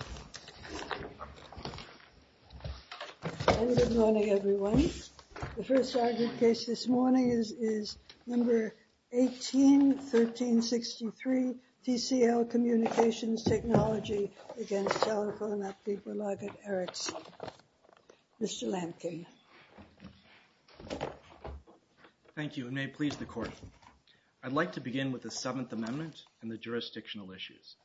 Mr. Lamkin. Thank you. It may please the Court. I'd like to begin with the Seventh Amendment and the jurisdictional issues.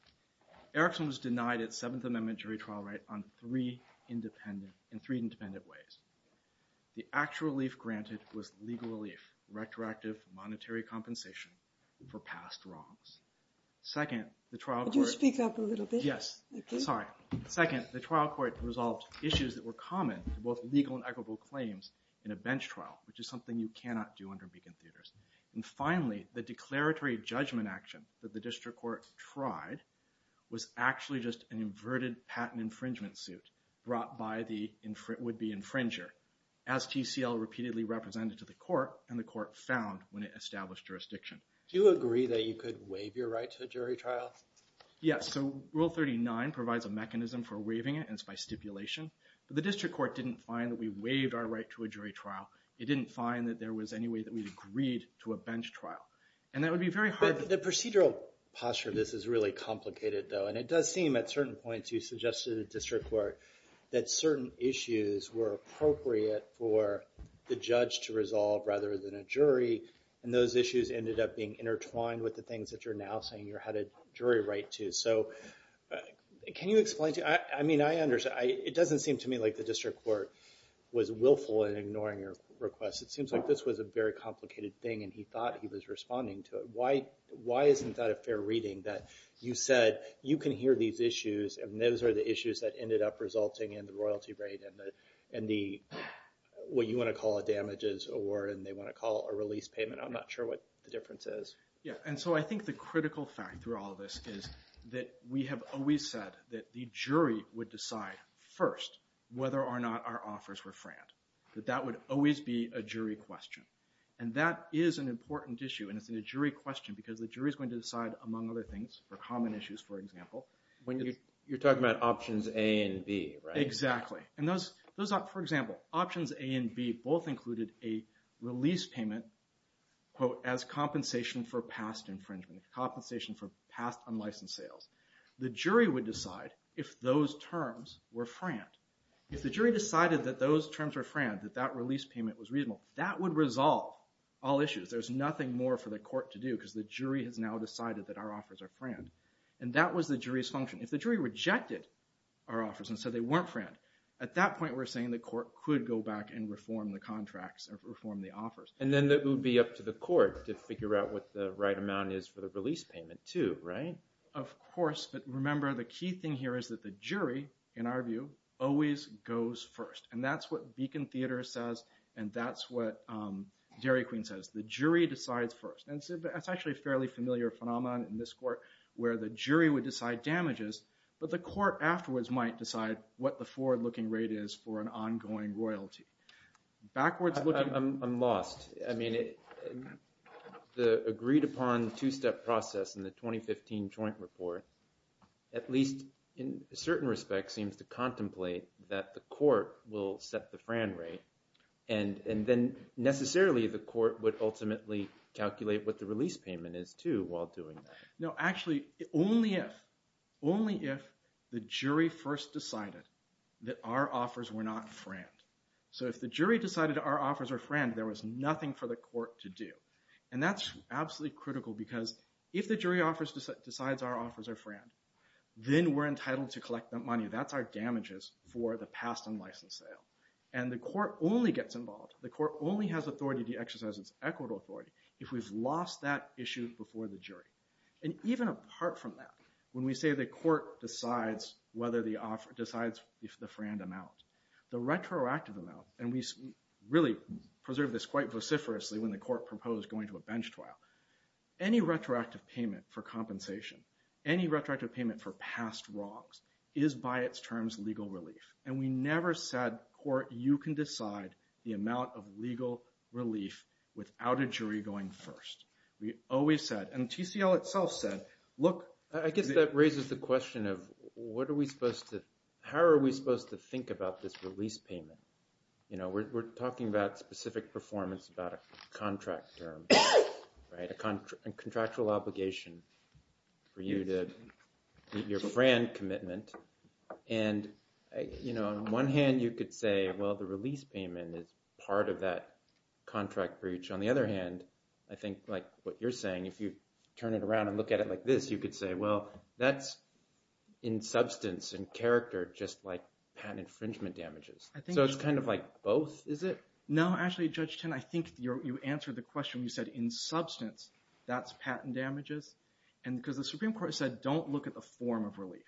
Erickson was denied its Seventh Amendment jury trial right on three independent, in three independent ways. The actual relief granted was legal relief, retroactive monetary compensation for past wrongs. Second, the trial court resolved issues that were common to both legal and equitable claims in a bench trial, which is something you cannot do under Beacon Theaters. And finally, the declaratory judgment action that the district court tried was actually just an inverted patent infringement suit brought by the would-be infringer, as TCL repeatedly represented to the court and the court found when it established jurisdiction. Do you agree that you could waive your right to a jury trial? Yes. So Rule 39 provides a mechanism for waiving it, and it's by stipulation. But the district court didn't find that we waived our right to a jury trial. It didn't find that there was any way that we agreed to a bench trial. And that would be very hard to The procedural posture of this is really complicated, though. And it does seem, at certain points, you suggested to the district court that certain issues were appropriate for the judge to resolve rather than a jury. And those issues ended up being intertwined with the things that you're now saying you had a jury right to. So can you explain to me? I mean, it doesn't seem to me like the district court was willful in ignoring your request. It seems like this was a very complicated thing, and he thought he was responding to it. Why isn't that a fair reading, that you said, you can hear these issues, and those are the issues that ended up resulting in the royalty rate and what you want to call a damages award, and they want to call a release payment? I'm not sure what the difference is. Yeah. And so I think the critical fact through all of this is that we have always said that the jury would decide first whether or not our offers were franked, that that would always be a jury question. And that is an important issue, and it's a jury question because the jury is going to decide, among other things, for common issues, for example. You're talking about Options A and B, right? Exactly. For example, Options A and B both included a release payment, quote, as compensation for past infringement, compensation for past unlicensed sales. The jury would decide if those terms were franked. If the jury decided that those terms were franked, that that release payment was reasonable, that would resolve all issues. There's nothing more for the court to do because the jury has now decided that our offers are franked. And that was the jury's function. If the jury rejected our offers and said they weren't franked, at that point we're saying the court could go back and reform the contracts or reform the offers. And then it would be up to the court to figure out what the right amount is for the release payment too, right? But remember, the key thing here is that the jury, in our view, always goes first. And that's what Beacon Theater says, and that's what Dairy Queen says. The jury decides first. And that's actually a fairly familiar phenomenon in this court where the jury would decide damages, but the court afterwards might decide what the forward-looking rate is for an ongoing royalty. I'm lost. I mean, the agreed-upon two-step process in the 2015 joint report, at least in certain respects, seems to contemplate that the court will set the fran rate. And then necessarily the court would ultimately calculate what the release payment is too while doing that. No, actually, only if the jury first decided that our offers were not franked. So if the jury decided our offers were franked, there was nothing for the court to do. And that's absolutely critical because if the jury decides our offers are franked, then we're entitled to collect the money. That's our damages for the past unlicensed sale. And the court only gets involved, the court only has authority to exercise its equitable authority if we've lost that issue before the jury. And even apart from that, when we say the court decides whether the offer, decides the fran amount, the retroactive amount, and we really preserve this quite vociferously when the court proposed going to a bench trial, any retroactive payment for compensation, any retroactive payment for past wrongs is by its terms legal relief. And we never said, court, you can decide the amount of legal relief without a jury going first. We always said, and TCL itself said, look. I guess that raises the question of what are we supposed to – how are we supposed to think about this release payment? We're talking about specific performance, about a contract term, a contractual obligation for you to meet your fran commitment. And on one hand, you could say, well, the release payment is part of that contract breach. On the other hand, I think like what you're saying, if you turn it around and look at it like this, you could say, well, that's in substance and character just like patent infringement damages. So it's kind of like both, is it? No, actually, Judge Tinn, I think you answered the question. You said, in substance, that's patent damages. And because the Supreme Court said, don't look at the form of relief.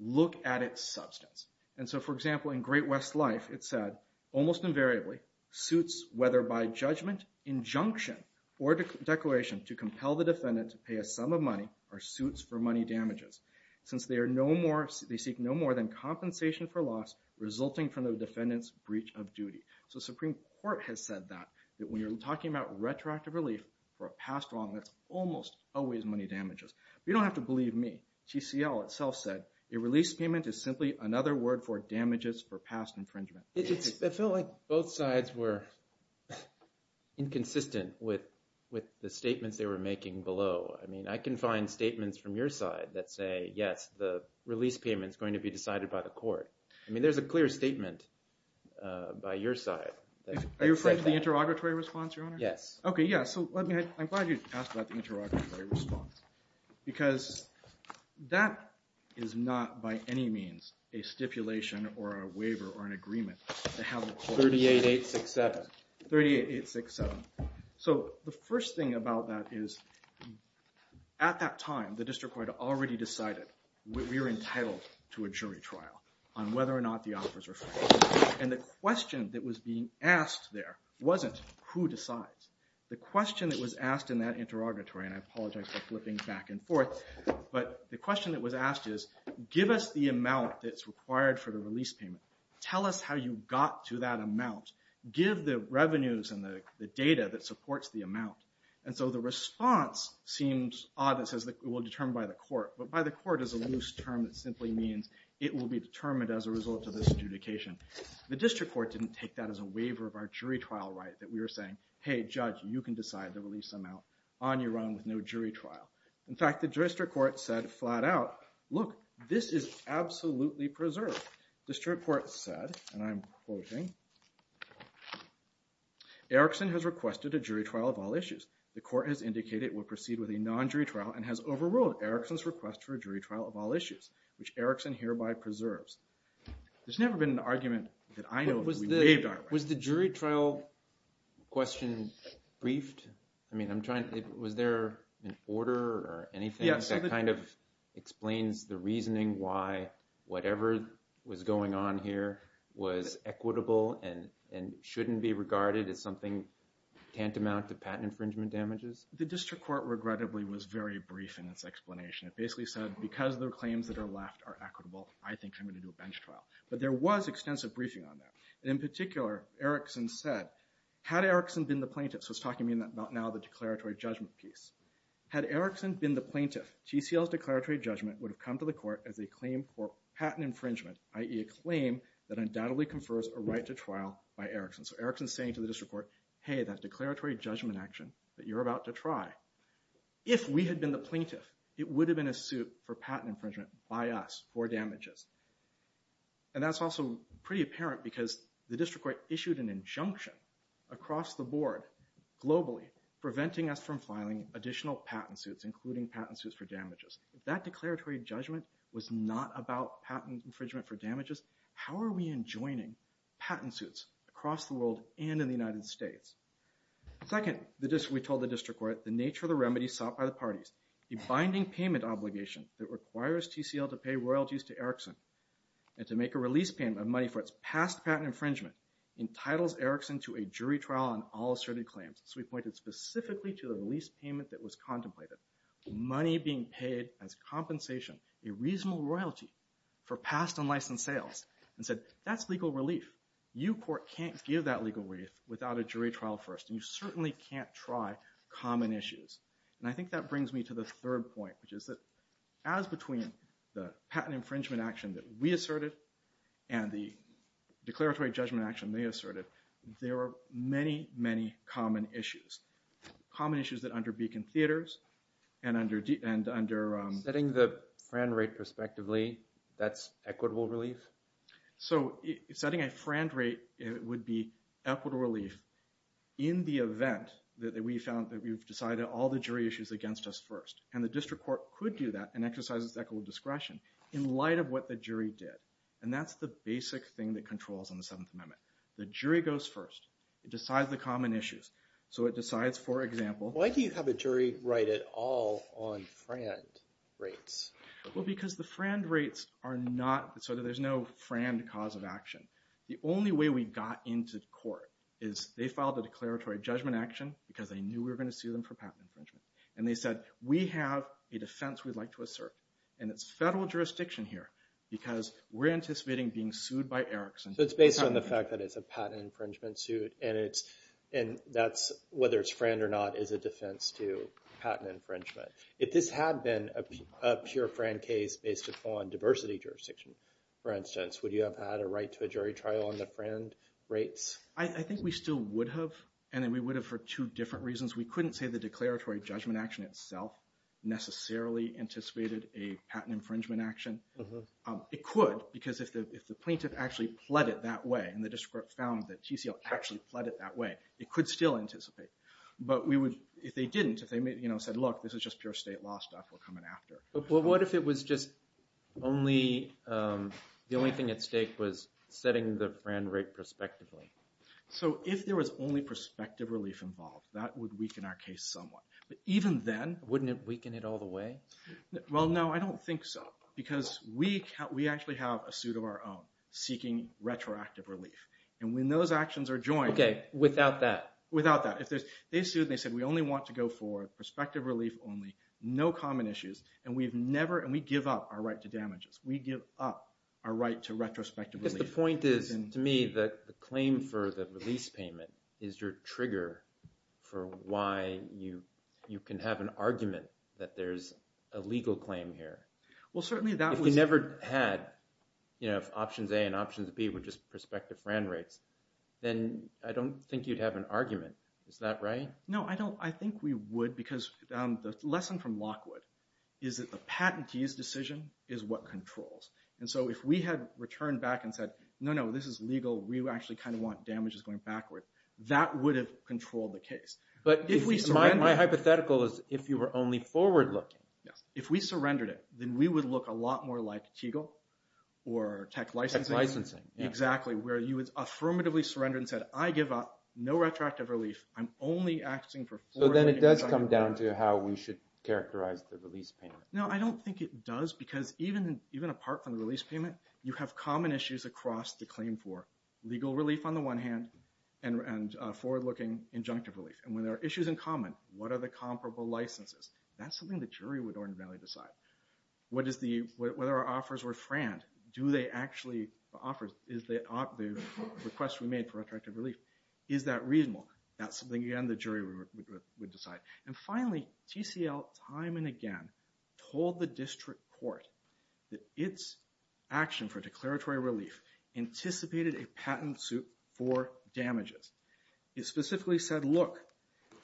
Look at its substance. And so, for example, in Great West Life, it said, almost invariably, suits, whether by judgment, injunction, or declaration to compel the defendant to pay a sum of money are suits for money damages since they seek no more than compensation for loss resulting from the defendant's breach of duty. So the Supreme Court has said that, that when you're talking about retroactive relief for a past wrong, that's almost always money damages. You don't have to believe me. TCL itself said, a release payment is simply another word for damages for past infringement. It felt like both sides were inconsistent with the statements they were making below. I mean, I can find statements from your side that say, yes, the release payment is going to be decided by the court. I mean, there's a clear statement by your side. Are you referring to the interrogatory response, Your Honor? Yes. OK, yeah. So I'm glad you asked about the interrogatory response. Because that is not, by any means, a stipulation, or a waiver, or an agreement to have the court decide. 38867. So the first thing about that is, at that time, the district court already decided we were entitled to a jury trial on whether or not the offers were fair. And the question that was being asked there wasn't who decides. The question that was asked in that interrogatory, and I apologize for flipping back and forth, but the question that was asked is, give us the amount that's required for the release payment. Tell us how you got to that amount. Give the revenues and the data that supports the amount. And so the response seems odd. It says it will be determined by the court. But by the court is a loose term that simply means it will be determined as a result of this adjudication. The district court didn't take that as a waiver of our jury trial right, that we were saying, hey, judge, you can decide the release amount on your own with no jury trial. In fact, the district court said flat out, look, this is absolutely preserved. The district court said, and I'm quoting, Erickson has requested a jury trial of all issues. The court has indicated it will proceed with a non-jury trial and has overruled Erickson's request for a jury trial of all issues, which Erickson hereby preserves. There's never been an argument that I know of that we waived our right. Was the jury trial question briefed? I mean, was there an order or anything that kind of explains the reasoning why whatever was going on here was equitable and shouldn't be regarded as something tantamount to patent infringement damages? The district court, regrettably, was very brief in its explanation. It basically said, because the claims that are left are equitable, I think I'm going to do a bench trial. But there was extensive briefing on that. In particular, Erickson said, had Erickson been the plaintiff, so he's talking about now the declaratory judgment piece, had Erickson been the plaintiff, TCL's declaratory judgment would have come to the court as a claim for patent infringement, i.e. a claim that undoubtedly confers a right to trial by Erickson. So Erickson's saying to the district court, hey, that declaratory judgment action that you're about to try, if we had been the plaintiff, it would have been a suit for patent infringement by us for damages. And that's also pretty apparent because the district court issued an injunction across the board, globally, preventing us from filing additional patent suits, including patent suits for damages. If that declaratory judgment was not about patent infringement for damages, how are we enjoining patent suits across the world and in the United States? Second, we told the district court, the nature of the remedy sought by the parties, the binding payment obligation that requires TCL to pay royalties to Erickson and to make a release payment of money for its past patent infringement, entitles Erickson to a jury trial on all asserted claims. So we pointed specifically to the release payment that was contemplated, money being paid as compensation, a reasonable royalty for past unlicensed sales, and said, that's legal relief. You, court, can't give that legal relief without a jury trial first, and you certainly can't try common issues. And I think that brings me to the third point, which is that as between the patent infringement action that we asserted and the declaratory judgment action they asserted, there are many, many common issues. Common issues that under beacon theaters and under… Setting the FRAND rate prospectively, that's equitable relief? So setting a FRAND rate would be equitable relief in the event that we found that we've decided all the jury issues against us first. And the district court could do that and exercise its equitable discretion in light of what the jury did. And that's the basic thing that controls on the Seventh Amendment. The jury goes first. It decides the common issues. So it decides, for example… Why do you have a jury right at all on FRAND rates? Well, because the FRAND rates are not…so there's no FRAND cause of action. The only way we got into court is they filed a declaratory judgment action because they knew we were going to sue them for patent infringement. And they said, we have a defense we'd like to assert. And it's federal jurisdiction here because we're anticipating being sued by Erickson. So it's based on the fact that it's a patent infringement suit, and whether it's FRAND or not is a defense to patent infringement. If this had been a pure FRAND case based upon diversity jurisdiction, for instance, would you have had a right to a jury trial on the FRAND rates? I think we still would have, and we would have for two different reasons. We couldn't say the declaratory judgment action itself necessarily anticipated a patent infringement action. It could because if the plaintiff actually pled it that way and the district court found that TCL actually pled it that way, it could still anticipate. But we would – if they didn't, if they said, look, this is just pure state law stuff, we'll come in after. Well, what if it was just only – the only thing at stake was setting the FRAND rate prospectively? So if there was only prospective relief involved, that would weaken our case somewhat. But even then – Wouldn't it weaken it all the way? Well, no, I don't think so because we actually have a suit of our own seeking retroactive relief. And when those actions are joined – Okay, without that. Without that. If there's – they sued and they said we only want to go for prospective relief only, no common issues, and we've never – and we give up our right to damages. We give up our right to retrospective relief. Because the point is to me that the claim for the release payment is your trigger for why you can have an argument that there's a legal claim here. Well, certainly that was – No, I don't – I think we would because the lesson from Lockwood is that the patentee's decision is what controls. And so if we had returned back and said, no, no, this is legal. We actually kind of want damages going backward. That would have controlled the case. But if we – My hypothetical is if you were only forward-looking. If we surrendered it, then we would look a lot more like Teagle or tech licensing. Tech licensing, yeah. Exactly, where you would affirmatively surrender and said, I give up. No retroactive relief. I'm only acting for – So then it does come down to how we should characterize the release payment. No, I don't think it does because even apart from the release payment, you have common issues across the claim for legal relief on the one hand and forward-looking injunctive relief. And when there are issues in common, what are the comparable licenses? That's something the jury would ordinarily decide. Whether our offers were franked, do they actually – The request we made for retroactive relief, is that reasonable? That's something, again, the jury would decide. And finally, TCL time and again told the district court that its action for declaratory relief anticipated a patent suit for damages. It specifically said, look,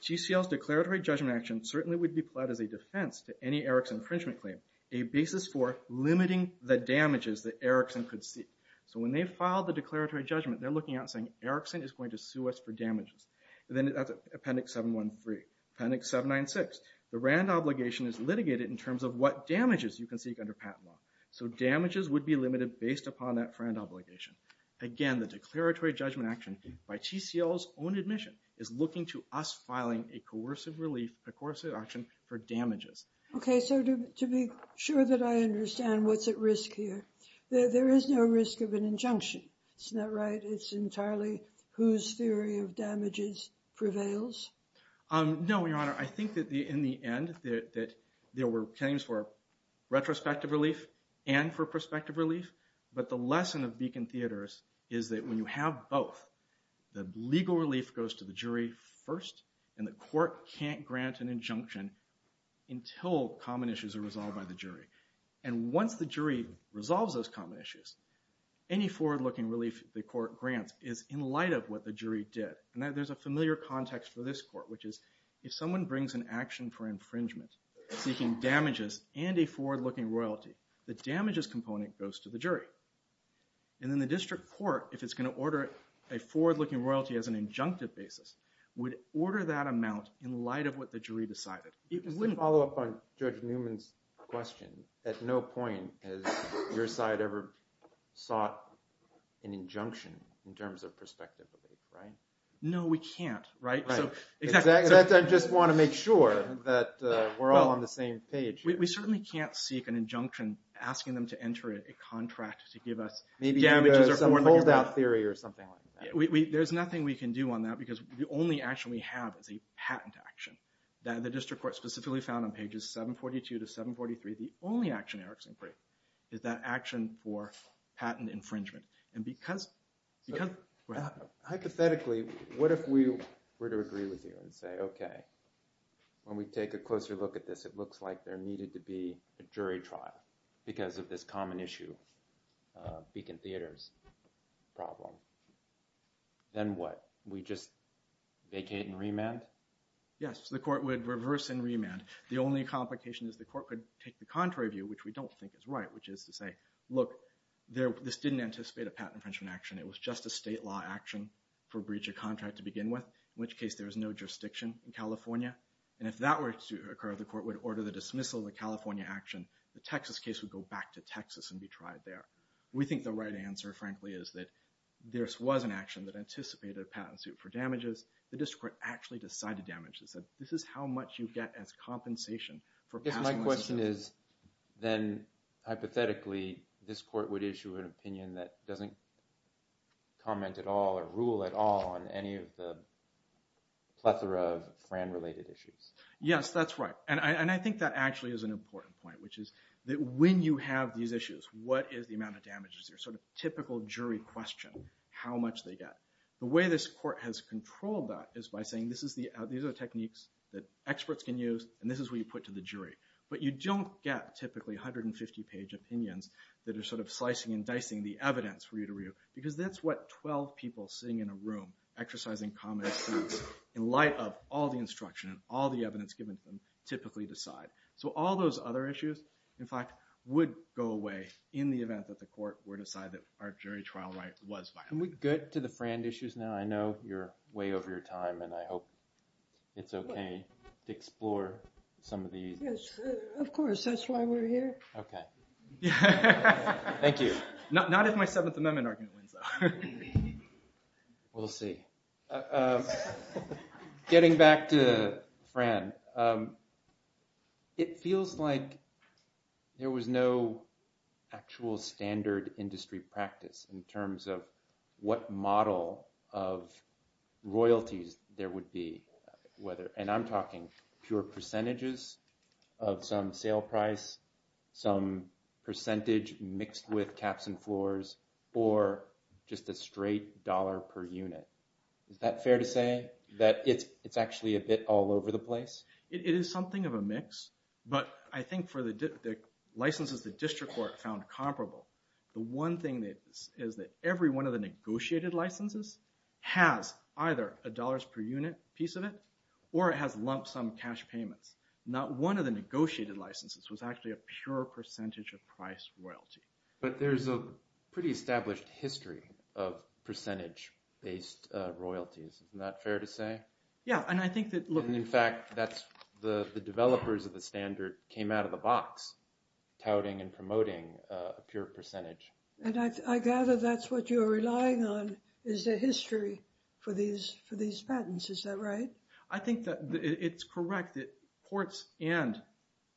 TCL's declaratory judgment action certainly would be applied as a defense to any Erickson infringement claim. A basis for limiting the damages that Erickson could see. So when they filed the declaratory judgment, they're looking at saying, Erickson is going to sue us for damages. And then that's Appendix 713. Appendix 796, the RAND obligation is litigated in terms of what damages you can seek under patent law. So damages would be limited based upon that RAND obligation. Again, the declaratory judgment action by TCL's own admission is looking to us filing a coercive relief, a coercive action for damages. Okay, so to be sure that I understand what's at risk here, there is no risk of an injunction. Isn't that right? It's entirely whose theory of damages prevails? No, Your Honor. Your Honor, I think that in the end that there were claims for retrospective relief and for prospective relief. But the lesson of Beacon Theaters is that when you have both, the legal relief goes to the jury first. And the court can't grant an injunction until common issues are resolved by the jury. And once the jury resolves those common issues, any forward-looking relief the court grants is in light of what the jury did. And there's a familiar context for this court, which is if someone brings an action for infringement seeking damages and a forward-looking royalty, the damages component goes to the jury. And then the district court, if it's going to order a forward-looking royalty as an injunctive basis, would order that amount in light of what the jury decided. You can follow up on Judge Newman's question. At no point has your side ever sought an injunction in terms of prospective relief, right? No, we can't, right? Right. Exactly. I just want to make sure that we're all on the same page here. We certainly can't seek an injunction asking them to enter a contract to give us damages or forward-looking royalties. Maybe some holdout theory or something like that. There's nothing we can do on that because the only action we have is a patent action that the district court specifically found on pages 742 to 743. The only action in Eric's inquiry is that action for patent infringement. Hypothetically, what if we were to agree with you and say, okay, when we take a closer look at this, it looks like there needed to be a jury trial because of this common issue, Beacon Theater's problem. Then what? We just vacate and remand? Yes, the court would reverse and remand. The only complication is the court could take the contrary view, which we don't think is right, which is to say, look, this didn't anticipate a patent infringement action. It was just a state law action for breach of contract to begin with, in which case there was no jurisdiction in California. If that were to occur, the court would order the dismissal of the California action. The Texas case would go back to Texas and be tried there. We think the right answer, frankly, is that this was an action that anticipated a patent suit for damages. The district court actually decided damages. This is how much you get as compensation for passing a suit. My question is, then, hypothetically, this court would issue an opinion that doesn't comment at all or rule at all on any of the plethora of Fran-related issues. Yes, that's right. And I think that actually is an important point, which is that when you have these issues, what is the amount of damages? Your sort of typical jury question, how much they get. The way this court has controlled that is by saying, these are techniques that experts can use, and this is what you put to the jury. But you don't get, typically, 150-page opinions that are sort of slicing and dicing the evidence for you to review, because that's what 12 people sitting in a room exercising common excuse in light of all the instruction and all the evidence given to them typically decide. So all those other issues, in fact, would go away in the event that the court were to decide that our jury trial right was violated. Can we get to the Fran issues now? I know you're way over your time, and I hope it's OK to explore some of these. Yes, of course. That's why we're here. OK. Thank you. Not if my Seventh Amendment argument wins, though. We'll see. Getting back to Fran, it feels like there was no actual standard industry practice in terms of what model of royalties there would be. And I'm talking pure percentages of some sale price, some percentage mixed with caps and floors, or just a straight dollar per unit. Is that fair to say, that it's actually a bit all over the place? It is something of a mix, but I think for the licenses the district court found comparable, the one thing is that every one of the negotiated licenses has either a dollars per unit piece of it, or it has lump sum cash payments. Not one of the negotiated licenses was actually a pure percentage of price royalty. But there's a pretty established history of percentage-based royalties. Isn't that fair to say? Yeah. In fact, the developers of the standard came out of the box touting and promoting a pure percentage. And I gather that's what you're relying on, is the history for these patents. Is that right? I think that it's correct that courts and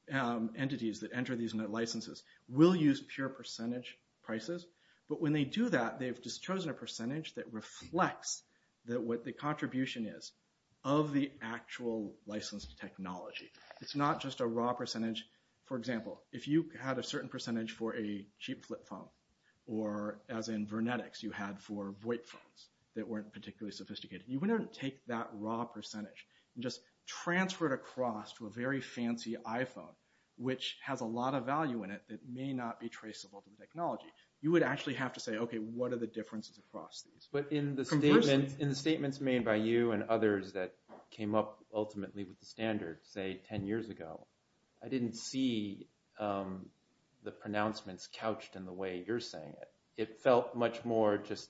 entities that enter these licenses will use pure percentage prices. But when they do that, they've just chosen a percentage that reflects what the contribution is of the actual licensed technology. It's not just a raw percentage. For example, if you had a certain percentage for a cheap flip phone, or as in Vernetics, you had for VoIP phones that weren't particularly sophisticated. You wouldn't take that raw percentage and just transfer it across to a very fancy iPhone, which has a lot of value in it that may not be traceable to the technology. You would actually have to say, okay, what are the differences across these? But in the statements made by you and others that came up ultimately with the standard, say, 10 years ago, I didn't see the pronouncements couched in the way you're saying it. It felt much more just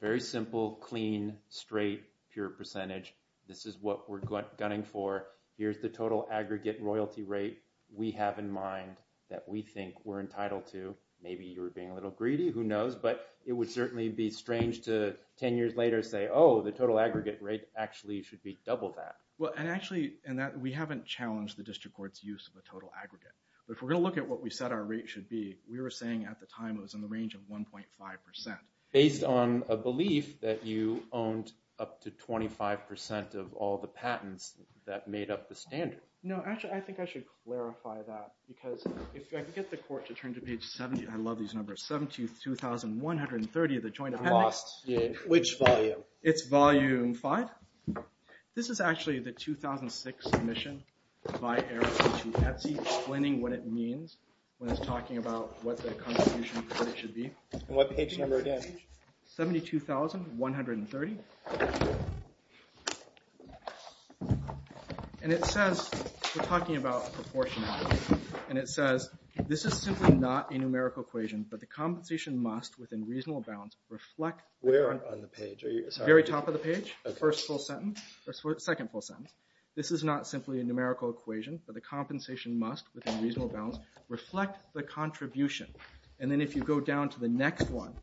very simple, clean, straight, pure percentage. This is what we're gunning for. Here's the total aggregate royalty rate we have in mind that we think we're entitled to. Maybe you were being a little greedy. Who knows? But it would certainly be strange to 10 years later say, oh, the total aggregate rate actually should be double that. Well, and actually, we haven't challenged the district court's use of a total aggregate. But if we're going to look at what we said our rate should be, we were saying at the time it was in the range of 1.5%. Based on a belief that you owned up to 25% of all the patents that made up the standard. No, actually, I think I should clarify that because if I could get the court to turn to page 70. I love these numbers. 72,130 of the joint appendix. Which volume? It's volume five. This is actually the 2006 submission by Eric to Etsy explaining what it means when it's talking about what the contribution credit should be. And what page number again? 72,130. And it says, we're talking about proportionality. And it says, this is simply not a numerical equation, but the compensation must, within reasonable bounds, reflect. Where on the page? The very top of the page. First full sentence. Second full sentence. This is not simply a numerical equation, but the compensation must, within reasonable bounds, reflect the contribution. And then if you go down to the next one,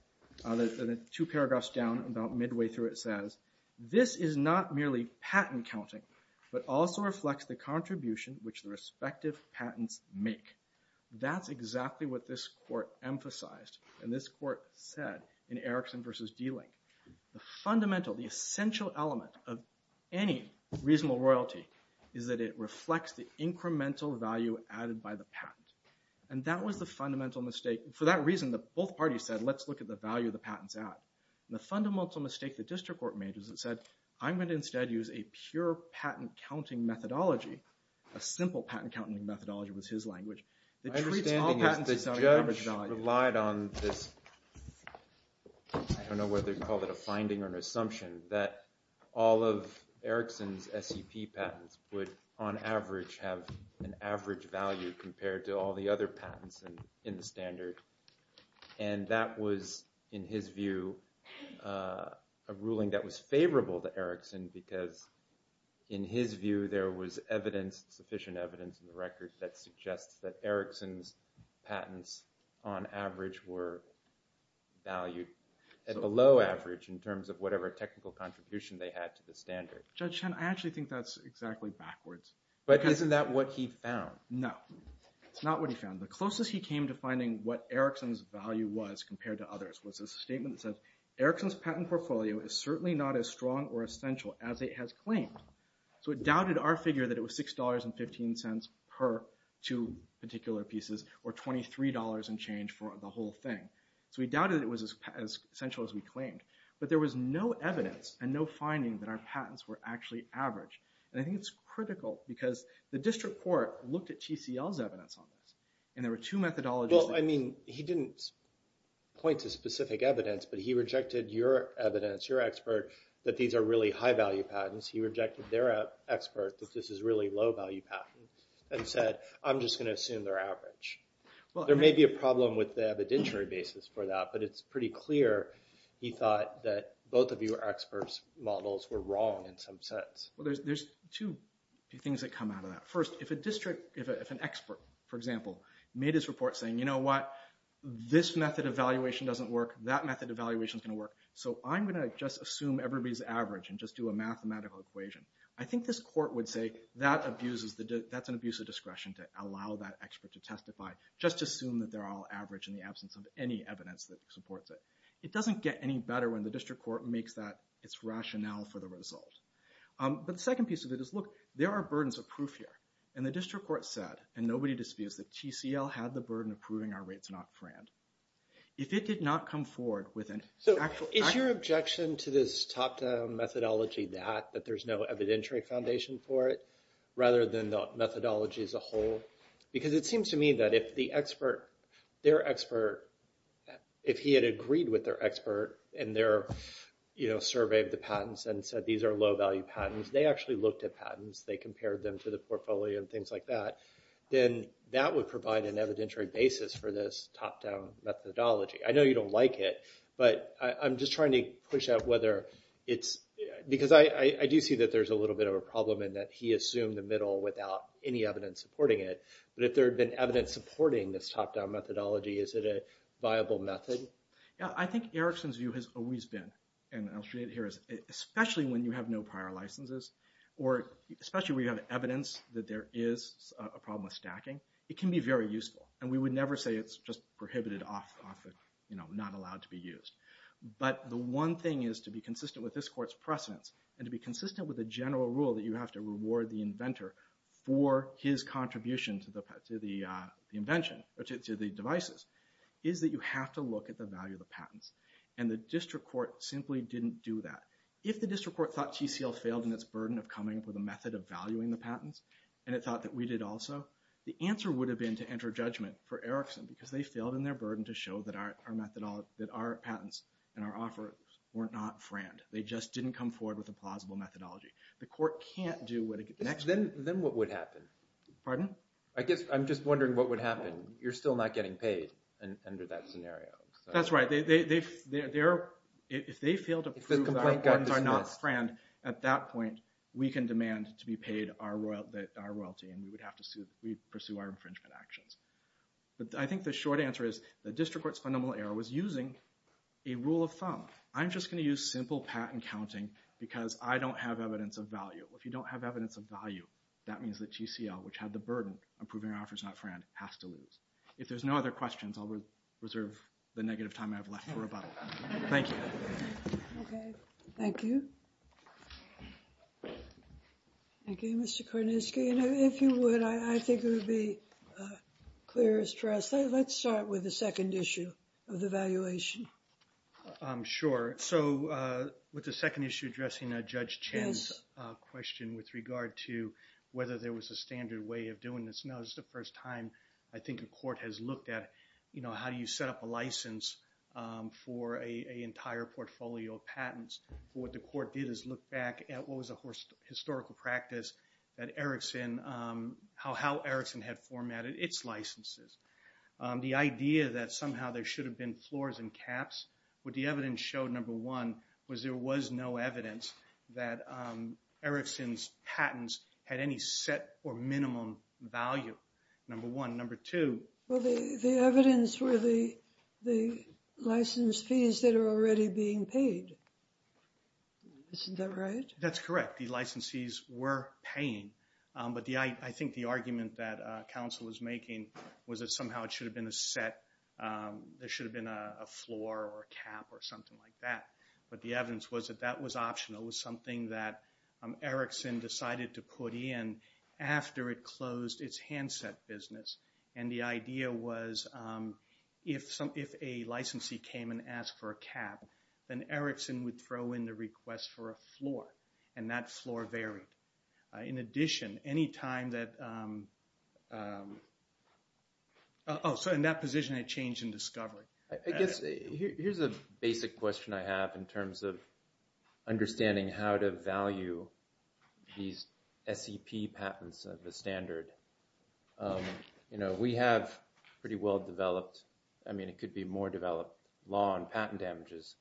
two paragraphs down, about midway through, it says, this is not merely patent counting, but also reflects the contribution which the respective patents make. That's exactly what this court emphasized and this court said in Erickson versus Dehling. The fundamental, the essential element of any reasonable royalty is that it reflects the incremental value added by the patent. And that was the fundamental mistake. For that reason, both parties said, let's look at the value the patents add. And the fundamental mistake the district court made is it said, I'm going to instead use a pure patent counting methodology. A simple patent counting methodology was his language. My understanding is the judge relied on this, I don't know whether to call it a finding or an assumption, that all of Erickson's SEP patents would, on average, have an average value compared to all the other patents in the standard. And that was, in his view, a ruling that was favorable to Erickson because, in his view, there was sufficient evidence in the record that suggests that Erickson's patents, on average, were valued at below average in terms of whatever technical contribution they had to the standard. Judge Chen, I actually think that's exactly backwards. But isn't that what he found? No. It's not what he found. The closest he came to finding what Erickson's value was compared to others was a statement that said, Erickson's patent portfolio is certainly not as strong or essential as it has claimed. So it doubted our figure that it was $6.15 per two particular pieces or $23 and change for the whole thing. So he doubted it was as essential as we claimed. But there was no evidence and no finding that our patents were actually average. And I think it's critical because the district court looked at TCL's evidence on this. And there were two methodologies. Well, I mean, he didn't point to specific evidence. But he rejected your evidence, your expert, that these are really high-value patents. He rejected their expert, that this is really low-value patents, and said, I'm just going to assume they're average. There may be a problem with the evidentiary basis for that. But it's pretty clear he thought that both of your experts' models were wrong in some sense. Well, there's two things that come out of that. First, if an expert, for example, made his report saying, you know what? This method of evaluation doesn't work. That method of evaluation is going to work. So I'm going to just assume everybody's average and just do a mathematical equation. I think this court would say, that's an abuse of discretion to allow that expert to testify. Just assume that they're all average in the absence of any evidence that supports it. It doesn't get any better when the district court makes that its rationale for the result. But the second piece of it is, look, there are burdens of proof here. And the district court said, and nobody disputes that TCL had the burden of proving our rates are not friend. If it did not come forward with an actual fact. So is your objection to this top-down methodology that, that there's no evidentiary foundation for it, rather than the methodology as a whole? Because it seems to me that if the expert, their expert, if he had agreed with their expert in their survey of the patents and said these are low-value patents, they actually looked at patents. They compared them to the portfolio and things like that. Then that would provide an evidentiary basis for this top-down methodology. I know you don't like it, but I'm just trying to push out whether it's, because I do see that there's a little bit of a problem in that he assumed the middle without any evidence supporting it. But if there had been evidence supporting this top-down methodology, is it a viable method? Yeah, I think Erickson's view has always been, and I'll say it here, especially when you have no prior licenses or especially when you have evidence that there is a problem with stacking, it can be very useful. And we would never say it's just prohibited off of, you know, not allowed to be used. But the one thing is to be consistent with this court's precedence and to be consistent with the general rule that you have to reward the inventor for his contribution to the invention or to the devices, is that you have to look at the value of the patents. And the district court simply didn't do that. If the district court thought TCL failed in its burden of coming up with a method of valuing the patents and it thought that we did also, the answer would have been to enter judgment for Erickson because they failed in their burden to show that our patents and our offers were not franked. They just didn't come forward with a plausible methodology. The court can't do what it can't do. Then what would happen? Pardon? I guess I'm just wondering what would happen. You're still not getting paid under that scenario. That's right. If they fail to prove that our patents are not franked, at that point we can demand to be paid our royalty and we would have to pursue our infringement actions. I'm just going to use simple patent counting because I don't have evidence of value. If you don't have evidence of value, that means that TCL, which had the burden of proving our offers not franked, has to lose. If there's no other questions, I'll reserve the negative time I have left for rebuttal. Thank you. Okay. Thank you. Thank you, Mr. Kornisky. And if you would, I think it would be clear as trust. Let's start with the second issue of the valuation. Sure. So with the second issue addressing Judge Chen's question with regard to whether there was a standard way of doing this, no, this is the first time I think a court has looked at, you know, how do you set up a license for an entire portfolio of patents? What the court did is look back at what was a historical practice that Erickson, how Erickson had formatted its licenses. The idea that somehow there should have been floors and caps, what the evidence showed, number one, was there was no evidence that Erickson's patents had any set or minimum value, number one. Number two. Well, the evidence were the license fees that are already being paid. Isn't that right? That's correct. The licensees were paying. I think the argument that counsel was making was that somehow it should have been a set, there should have been a floor or a cap or something like that. But the evidence was that that was optional. It was something that Erickson decided to put in after it closed its handset business. And the idea was if a licensee came and asked for a cap, then Erickson would throw in the request for a floor. And that floor varied. In addition, any time that – oh, sorry. In that position, it changed in discovery. I guess here's a basic question I have in terms of understanding how to value these SEP patents of the standard. You know, we have pretty well-developed – I mean, it could be more developed law on patent damages.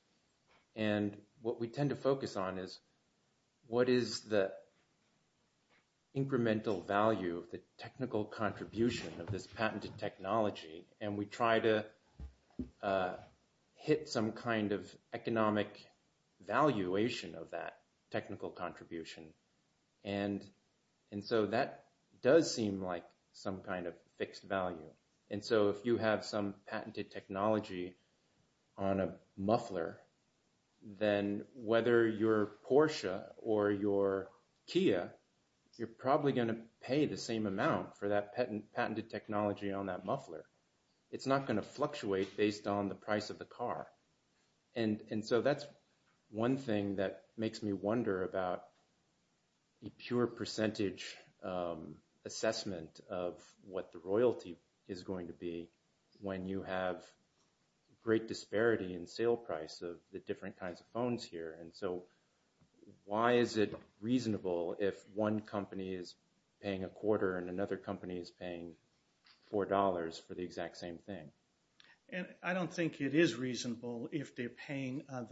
And what we tend to focus on is what is the incremental value of the technical contribution of this patented technology. And we try to hit some kind of economic valuation of that technical contribution. And so that does seem like some kind of fixed value. And so if you have some patented technology on a muffler, then whether you're Porsche or you're Kia, you're probably going to pay the same amount for that patented technology on that muffler. It's not going to fluctuate based on the price of the car. And so that's one thing that makes me wonder about the pure percentage assessment of what the royalty is going to be when you have great disparity in sale price of the different kinds of phones here. And so why is it reasonable if one company is paying a quarter and another company is paying $4 for the exact same thing? I don't think it is reasonable if they're paying a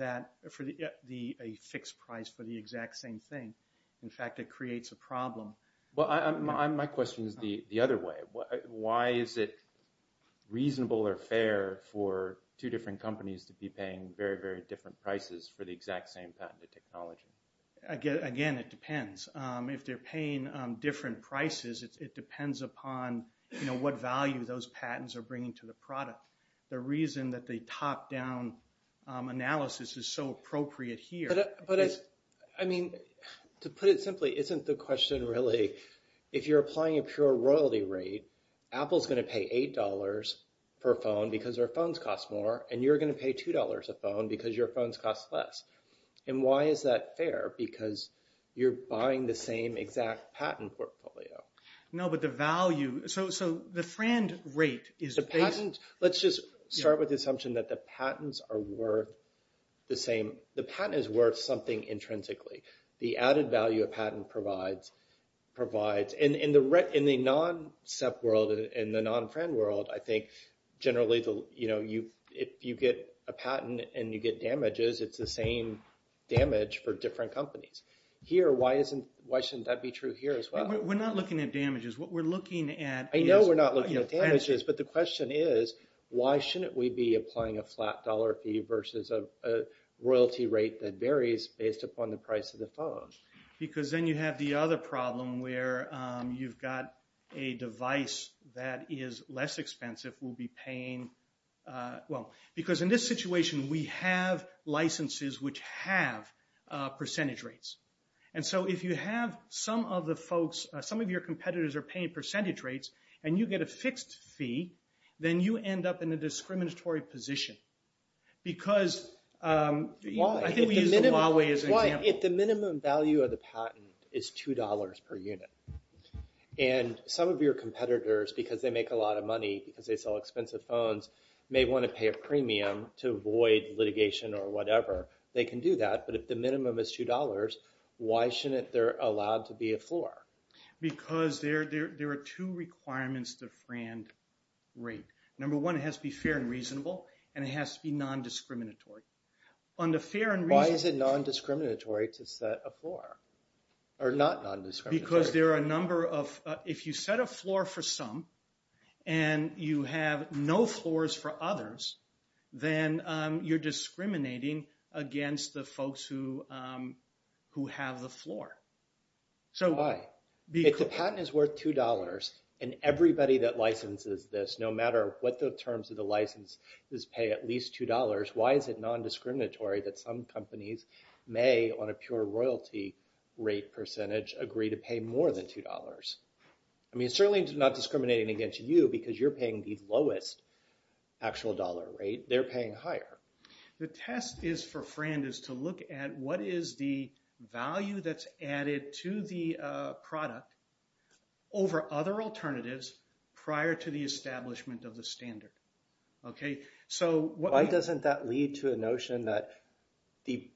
fixed price for the exact same thing. In fact, it creates a problem. Well, my question is the other way. Why is it reasonable or fair for two different companies to be paying very, very different prices for the exact same patented technology? Again, it depends. If they're paying different prices, it depends upon what value those patents are bringing to the product. The reason that the top-down analysis is so appropriate here is… But, I mean, to put it simply, isn't the question really if you're applying a pure royalty rate, Apple's going to pay $8 per phone because their phones cost more, and you're going to pay $2 a phone because your phones cost less? And why is that fair? Because you're buying the same exact patent portfolio. No, but the value… So the friend rate is… Let's just start with the assumption that the patents are worth the same. The patent is worth something intrinsically. The added value a patent provides… In the non-SEP world, in the non-friend world, I think, generally, if you get a patent and you get damages, it's the same damage for different companies. Here, why shouldn't that be true here as well? We're not looking at damages. What we're looking at is… I know we're not looking at damages, but the question is, why shouldn't we be applying a flat dollar fee versus a royalty rate that varies based upon the price of the phone? Because then you have the other problem where you've got a device that is less expensive, will be paying… Well, because in this situation, we have licenses which have percentage rates. And so if you have some of the folks, some of your competitors are paying percentage rates, and you get a fixed fee, then you end up in a discriminatory position because… I think we used Huawei as an example. Why, if the minimum value of the patent is $2 per unit, and some of your competitors, because they make a lot of money, because they sell expensive phones, may want to pay a premium to avoid litigation or whatever, they can do that, but if the minimum is $2, why shouldn't they be allowed to be a floor? Because there are two requirements to friend rate. Number one, it has to be fair and reasonable, and it has to be non-discriminatory. Why is it non-discriminatory to set a floor? Or not non-discriminatory? Because there are a number of… If you set a floor for some, and you have no floors for others, then you're discriminating against the folks who have the floor. Why? If the patent is worth $2, and everybody that licenses this, no matter what the terms of the license, does pay at least $2, why is it non-discriminatory that some companies may, on a pure royalty rate percentage, agree to pay more than $2? I mean, it's certainly not discriminating against you, because you're paying the lowest actual dollar rate. They're paying higher. The test for FRAND is to look at what is the value that's added to the product over other alternatives prior to the establishment of the standard. Why doesn't that lead to a notion that the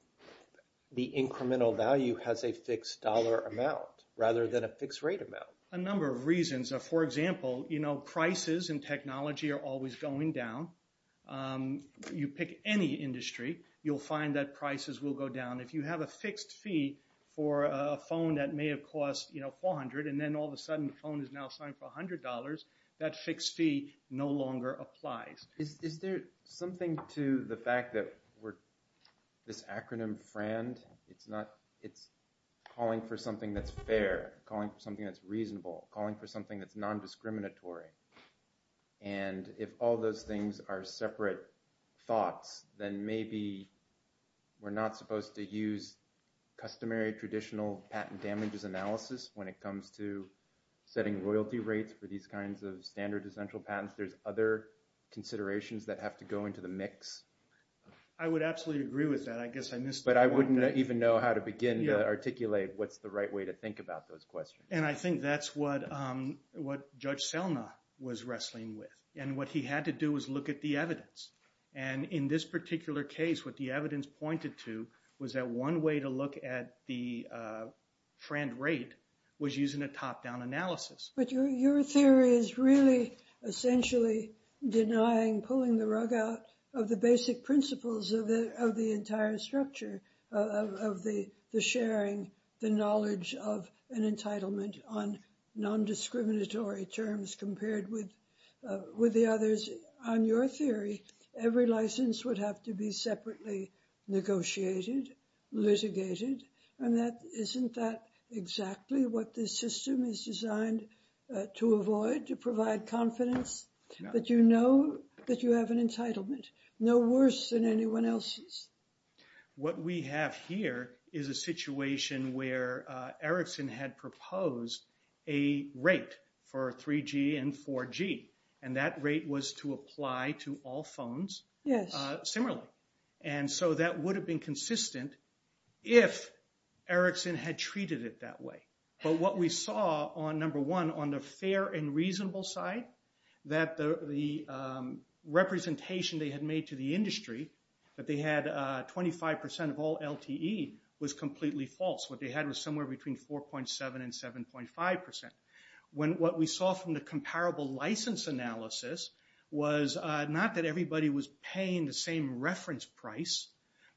incremental value has a fixed dollar amount, rather than a fixed rate amount? A number of reasons. For example, prices in technology are always going down. You pick any industry, you'll find that prices will go down. If you have a fixed fee for a phone that may have cost $400, and then all of a sudden the phone is now signed for $100, that fixed fee no longer applies. Is there something to the fact that this acronym FRAND, it's calling for something that's fair, calling for something that's reasonable, calling for something that's non-discriminatory, and if all those things are separate thoughts, then maybe we're not supposed to use customary, traditional patent damages analysis when it comes to setting royalty rates for these kinds of standard essential patents. There's other considerations that have to go into the mix. I would absolutely agree with that. I guess I missed the point. But I wouldn't even know how to begin to articulate what's the right way to think about those questions. And I think that's what Judge Selma was wrestling with. And what he had to do was look at the evidence. And in this particular case, what the evidence pointed to was that one way to look at the FRAND rate was using a top-down analysis. But your theory is really essentially denying, pulling the rug out of the basic principles of the entire structure of the sharing, the knowledge of an entitlement on non-discriminatory terms compared with the others. On your theory, every license would have to be separately negotiated, litigated. And isn't that exactly what this system is designed to avoid, to provide confidence, that you know that you have an entitlement, no worse than anyone else's? What we have here is a situation where Erickson had proposed a rate for 3G and 4G. And that rate was to apply to all phones similarly. And so that would have been consistent if Erickson had treated it that way. But what we saw, number one, on the fair and reasonable side, that the representation they had made to the industry, that they had 25% of all LTE, was completely false. What they had was somewhere between 4.7% and 7.5%. What we saw from the comparable license analysis was not that everybody was paying the same reference price,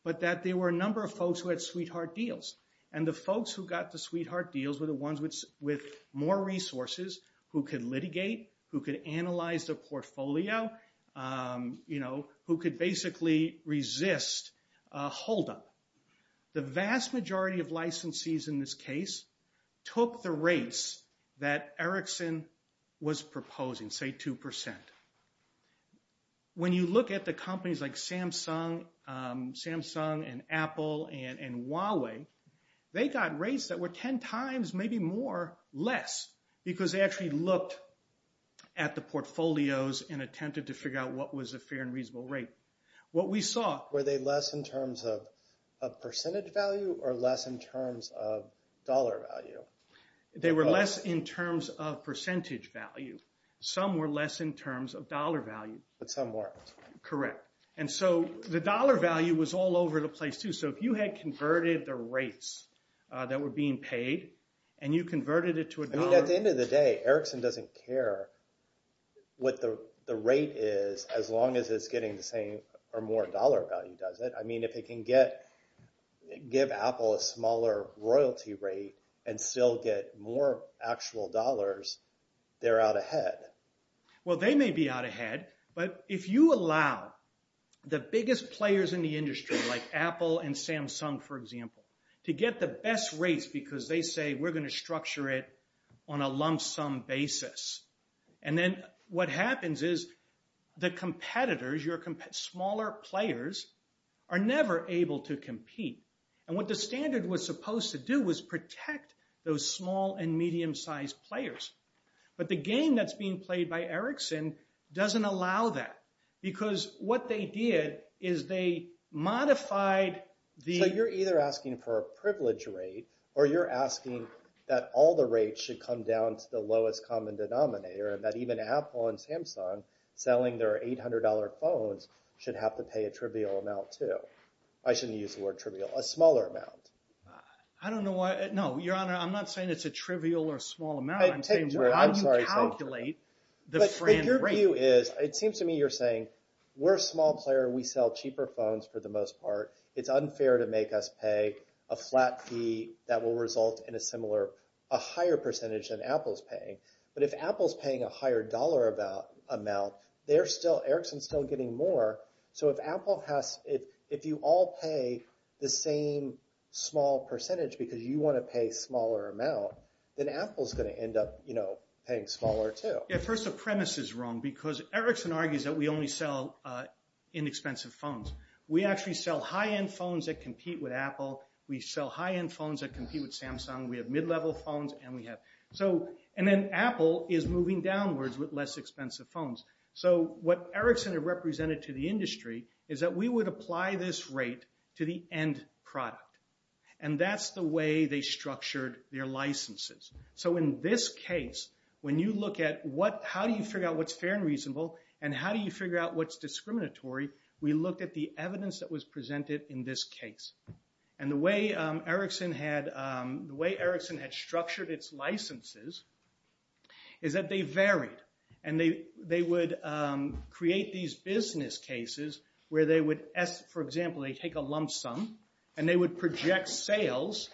but that there were a number of folks who had sweetheart deals. And the folks who got the sweetheart deals were the ones with more resources who could litigate, who could analyze their portfolio, who could basically resist a holdup. The vast majority of licensees in this case took the rates that Erickson was proposing, say 2%. When you look at the companies like Samsung and Apple and Huawei, they got rates that were 10 times, maybe more, less, because they actually looked at the portfolios and attempted to figure out what was a fair and reasonable rate. Were they less in terms of percentage value or less in terms of dollar value? They were less in terms of percentage value. Some were less in terms of dollar value. But some weren't. Correct. And so the dollar value was all over the place too. So if you had converted the rates that were being paid and you converted it to a dollar... I mean, if it can give Apple a smaller royalty rate and still get more actual dollars, they're out ahead. Well, they may be out ahead. But if you allow the biggest players in the industry, like Apple and Samsung, for example, to get the best rates because they say, we're going to structure it on a lump sum basis. And then what happens is the competitors, your smaller players, are never able to compete. And what the standard was supposed to do was protect those small and medium-sized players. But the game that's being played by Ericsson doesn't allow that because what they did is they modified the... So you're either asking for a privilege rate or you're asking that all the rates should come down to the lowest common denominator and that even Apple and Samsung, selling their $800 phones, should have to pay a trivial amount too. I shouldn't use the word trivial. A smaller amount. I don't know why... No, Your Honor, I'm not saying it's a trivial or small amount. I'm saying how do you calculate the frame rate? But your view is, it seems to me you're saying, we're a small player. We sell cheaper phones for the most part. It's unfair to make us pay a flat fee that will result in a higher percentage than Apple's paying. But if Apple's paying a higher dollar amount, Ericsson's still getting more. So if you all pay the same small percentage because you want to pay a smaller amount, then Apple's going to end up paying smaller too. Yeah, first the premise is wrong because Ericsson argues that we only sell inexpensive phones. We actually sell high-end phones that compete with Apple. We sell high-end phones that compete with Samsung. We have mid-level phones and we have... And then Apple is moving downwards with less expensive phones. So what Ericsson had represented to the industry is that we would apply this rate to the end product. And that's the way they structured their licenses. So in this case, when you look at how do you figure out what's fair and reasonable and how do you figure out what's discriminatory, we looked at the evidence that was presented in this case. And the way Ericsson had structured its licenses is that they varied. And they would create these business cases where they would, for example, they'd take a lump sum and they would project sales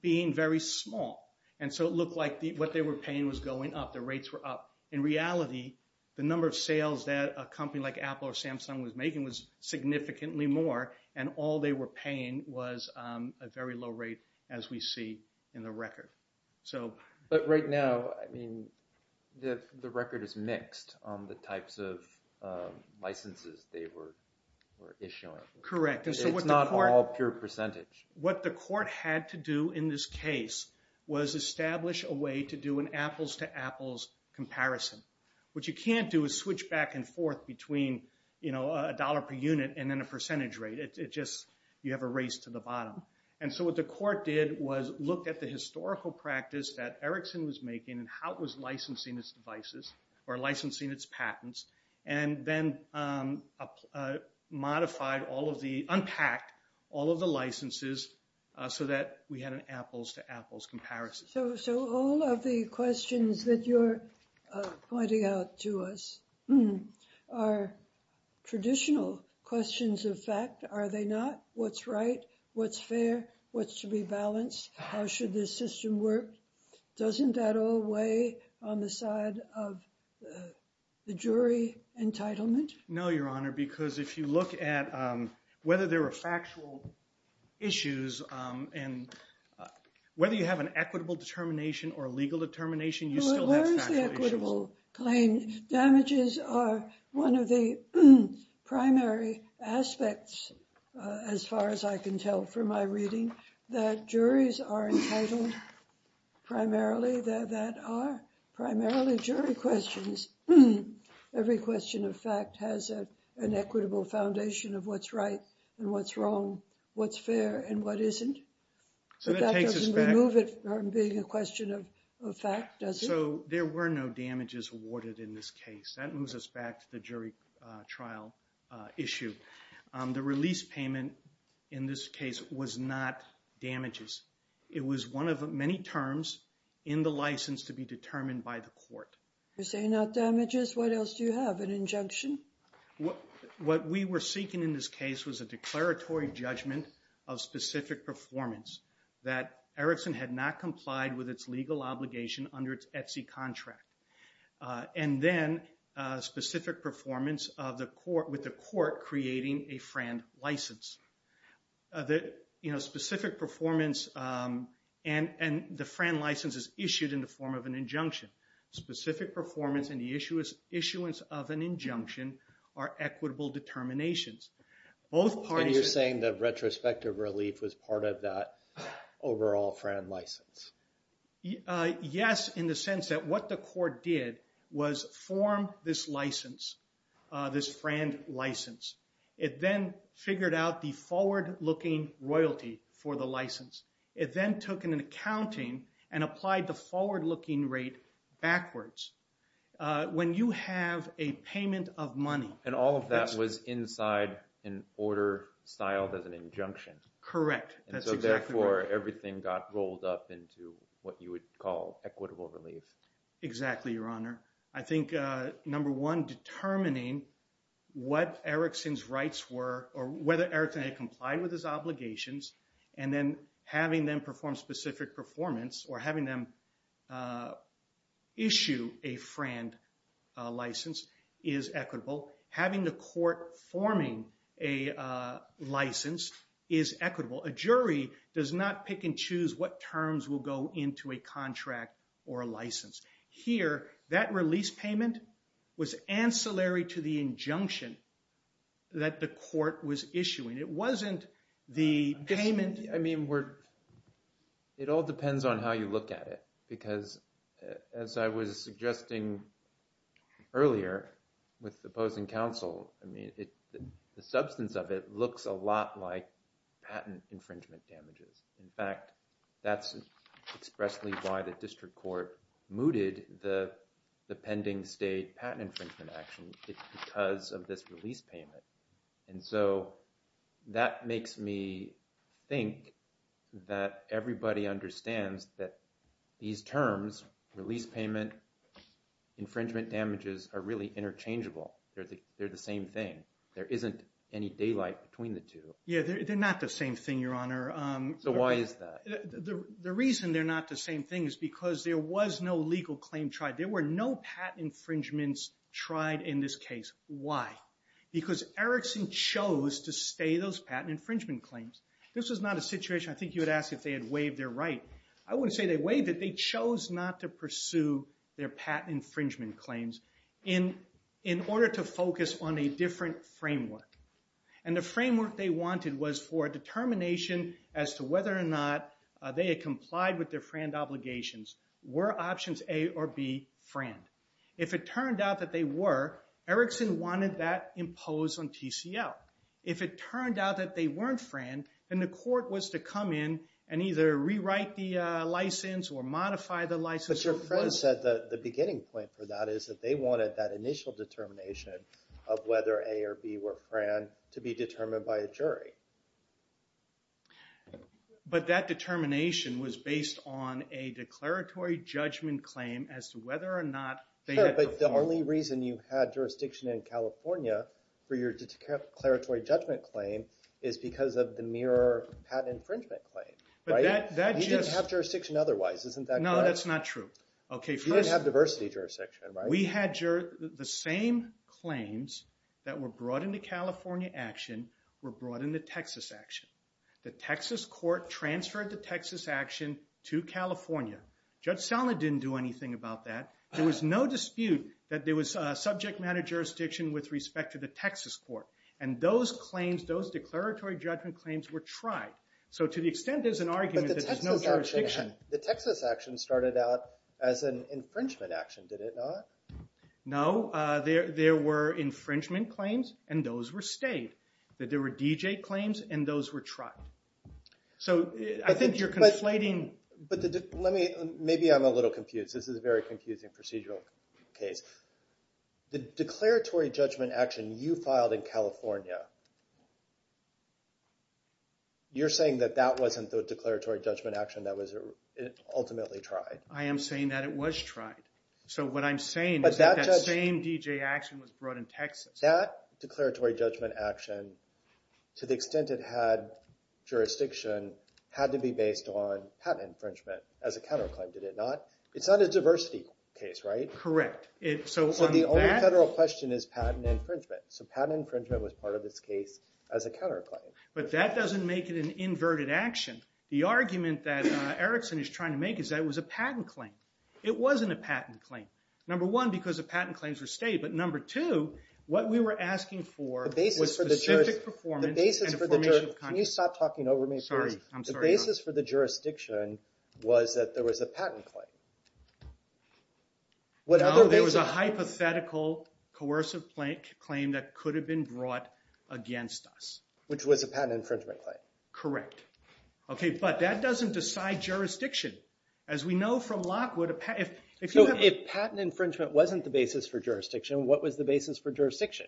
being very small. And so it looked like what they were paying was going up, the rates were up. In reality, the number of sales that a company like Apple or Samsung was making was significantly more. And all they were paying was a very low rate as we see in the record. But right now, I mean, the record is mixed on the types of licenses they were issuing. Correct. It's not all pure percentage. What the court had to do in this case was establish a way to do an apples-to-apples comparison. What you can't do is switch back and forth between a dollar per unit and then a percentage rate. You have a race to the bottom. And so what the court did was look at the historical practice that Ericsson was making and how it was licensing its devices or licensing its patents. And then modified all of the, unpacked all of the licenses so that we had an apples-to-apples comparison. So all of the questions that you're pointing out to us are traditional questions of fact. Are they not? What's right? What's fair? What's to be balanced? How should this system work? Doesn't that all weigh on the side of the jury entitlement? No, Your Honor, because if you look at whether there are factual issues and whether you have an equitable determination or a legal determination, you still have factual issues. Where is the equitable claim? Damages are one of the primary aspects, as far as I can tell from my reading, that juries are entitled primarily, that are primarily jury questions. Every question of fact has an equitable foundation of what's right and what's wrong, what's fair and what isn't. So that doesn't remove it from being a question of fact, does it? So there were no damages awarded in this case. That moves us back to the jury trial issue. The release payment in this case was not damages. It was one of many terms in the license to be determined by the court. You're saying not damages? What else do you have, an injunction? What we were seeking in this case was a declaratory judgment of specific performance that Erickson had not complied with its legal obligation under its Etsy contract. And then specific performance with the court creating a FRAND license. Specific performance and the FRAND license is issued in the form of an injunction. Specific performance and the issuance of an injunction are equitable determinations. And you're saying that retrospective relief was part of that overall FRAND license? Yes, in the sense that what the court did was form this license, this FRAND license. It then figured out the forward-looking royalty for the license. It then took an accounting and applied the forward-looking rate backwards. When you have a payment of money... And all of that was inside an order styled as an injunction. Correct. And so, therefore, everything got rolled up into what you would call equitable relief. Exactly, Your Honor. I think, number one, determining what Erickson's rights were or whether Erickson had complied with his obligations and then having them perform specific performance or having them issue a FRAND license is equitable. Having the court forming a license is equitable. A jury does not pick and choose what terms will go into a contract or a license. Here, that release payment was ancillary to the injunction that the court was issuing. It wasn't the payment... It all depends on how you look at it. Because, as I was suggesting earlier with the opposing counsel, the substance of it looks a lot like patent infringement damages. In fact, that's expressly why the district court mooted the pending state patent infringement action. It's because of this release payment. And so, that makes me think that everybody understands that these terms, release payment, infringement damages, are really interchangeable. They're the same thing. There isn't any daylight between the two. Yeah, they're not the same thing, Your Honor. So, why is that? The reason they're not the same thing is because there was no legal claim tried. There were no patent infringements tried in this case. Why? Because Erickson chose to stay those patent infringement claims. This was not a situation I think you would ask if they had waived their right. I wouldn't say they waived it. They chose not to pursue their patent infringement claims. in order to focus on a different framework. And the framework they wanted was for a determination as to whether or not they had complied with their FRAND obligations. Were options A or B FRAND? If it turned out that they were, Erickson wanted that imposed on TCL. If it turned out that they weren't FRAND, then the court was to come in and either rewrite the license or modify the license. But your FRAND said that the beginning point for that is that they wanted that initial determination of whether A or B were FRAND to be determined by a jury. But that determination was based on a declaratory judgment claim as to whether or not they had performed. But the only reason you had jurisdiction in California for your declaratory judgment claim is because of the mirror patent infringement claim. Right? But that just... You didn't have jurisdiction otherwise. Isn't that correct? No, that's not true. You didn't have diversity jurisdiction, right? We had the same claims that were brought into California action were brought into Texas action. The Texas court transferred the Texas action to California. Judge Selma didn't do anything about that. There was no dispute that there was subject matter jurisdiction with respect to the Texas court. And those claims, those declaratory judgment claims, were tried. So to the extent there's an argument that there's no jurisdiction... The Texas action started out as an infringement action, did it not? No. There were infringement claims, and those were stayed. That there were DJ claims, and those were tried. So I think you're conflating... Maybe I'm a little confused. This is a very confusing procedural case. The declaratory judgment action you filed in California, you're saying that that wasn't the declaratory judgment action that was ultimately tried? I am saying that it was tried. So what I'm saying is that that same DJ action was brought in Texas. That declaratory judgment action, to the extent it had jurisdiction, had to be based on patent infringement as a counterclaim, did it not? It's not a diversity case, right? Correct. So the only federal question is patent infringement. So patent infringement was part of this case as a counterclaim. But that doesn't make it an inverted action. The argument that Erickson is trying to make is that it was a patent claim. It wasn't a patent claim. Number one, because the patent claims were stayed. But number two, what we were asking for was specific performance and information content. Can you stop talking over me, please? The basis for the jurisdiction was that there was a patent claim. No, there was a hypothetical coercive claim that could have been brought against us. Which was a patent infringement claim. Correct. Okay, but that doesn't decide jurisdiction. As we know from Lockwood, if you have- So if patent infringement wasn't the basis for jurisdiction, what was the basis for jurisdiction?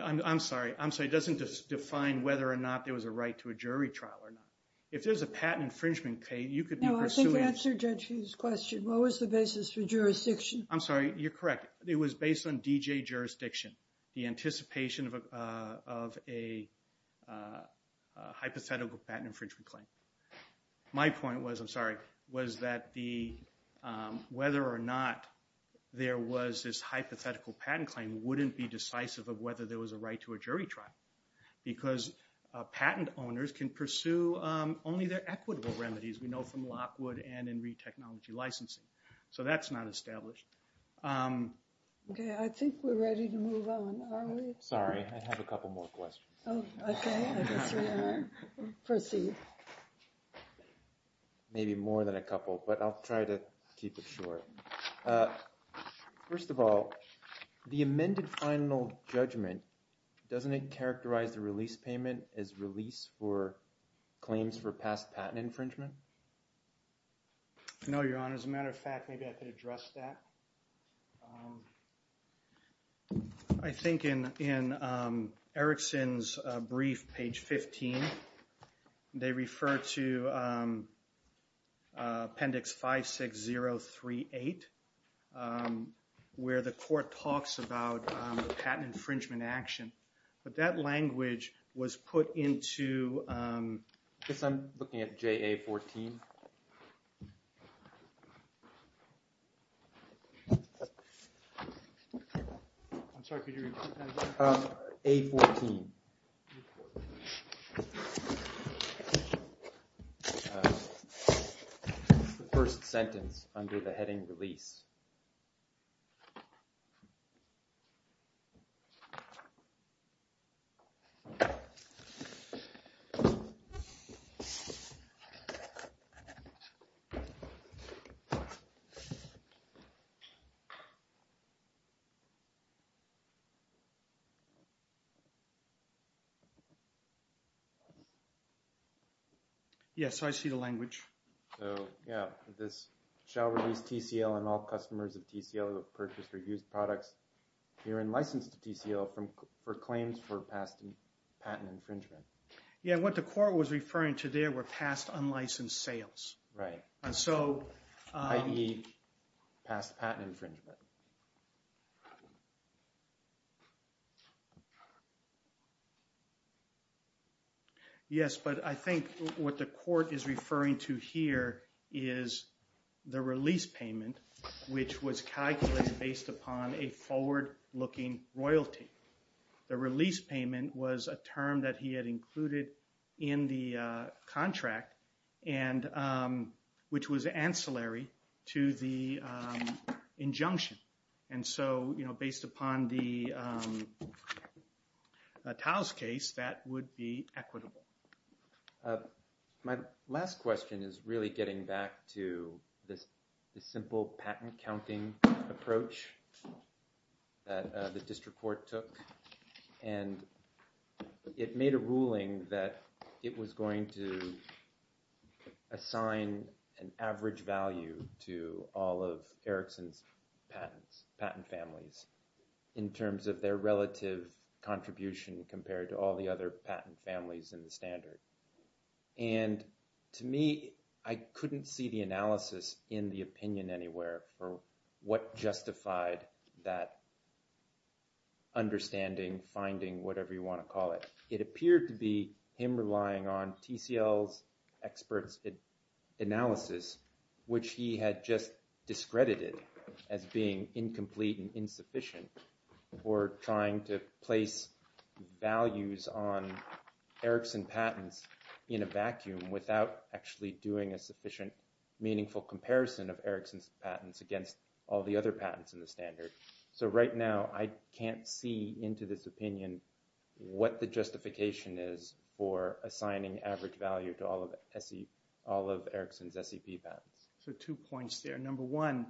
I'm sorry. I'm sorry. It doesn't define whether or not there was a right to a jury trial or not. If there's a patent infringement claim, you could be pursuing- No, I think you answered Judge Hughes' question. What was the basis for jurisdiction? I'm sorry. You're correct. It was based on DJ jurisdiction. The anticipation of a hypothetical patent infringement claim. My point was, I'm sorry, was that whether or not there was this hypothetical patent claim wouldn't be decisive of whether there was a right to a jury trial. Because patent owners can pursue only their equitable remedies. We know from Lockwood and in re-technology licensing. So that's not established. Okay, I think we're ready to move on. Are we? Sorry, I have a couple more questions. Oh, okay. I guess we are. Proceed. Maybe more than a couple, but I'll try to keep it short. First of all, the amended final judgment, doesn't it characterize the release payment as release for claims for past patent infringement? No, Your Honor. As a matter of fact, maybe I could address that. I think in Erickson's brief, page 15, they refer to appendix 56038, where the court talks about patent infringement action. But that language was put into... I guess I'm looking at JA 14. I'm sorry, could you repeat that again? A14. The first sentence under the heading release. Okay. Yes, I see the language. Yeah, this shall release TCL and all customers of TCL who have purchased or used products herein licensed to TCL for claims for past patent infringement. Yeah, what the court was referring to there were past unlicensed sales. Right. I.e. past patent infringement. Yes, but I think what the court is referring to here is the release payment, which was calculated based upon a forward looking royalty. The release payment was a term that he had included in the contract which was ancillary to the injunction. And so, you know, based upon the Taos case, that would be equitable. My last question is really getting back to this simple patent counting approach that the district court took. And it made a ruling that it was going to assign an average value to all of Erickson's patent families in terms of their relative contribution compared to all the other patent families in the standard. And to me, I couldn't see the analysis in the opinion anywhere for what justified that understanding, finding, whatever you want to call it. It appeared to be him relying on TCL's experts analysis, which he had just discredited as being incomplete and insufficient or trying to place values on Erickson patents in a vacuum without actually doing a sufficient meaningful comparison of Erickson's patents against all the other patents in the standard. So right now, I can't see into this opinion what the justification is for assigning average value to all of Erickson's SEP patents. So two points there. Number one,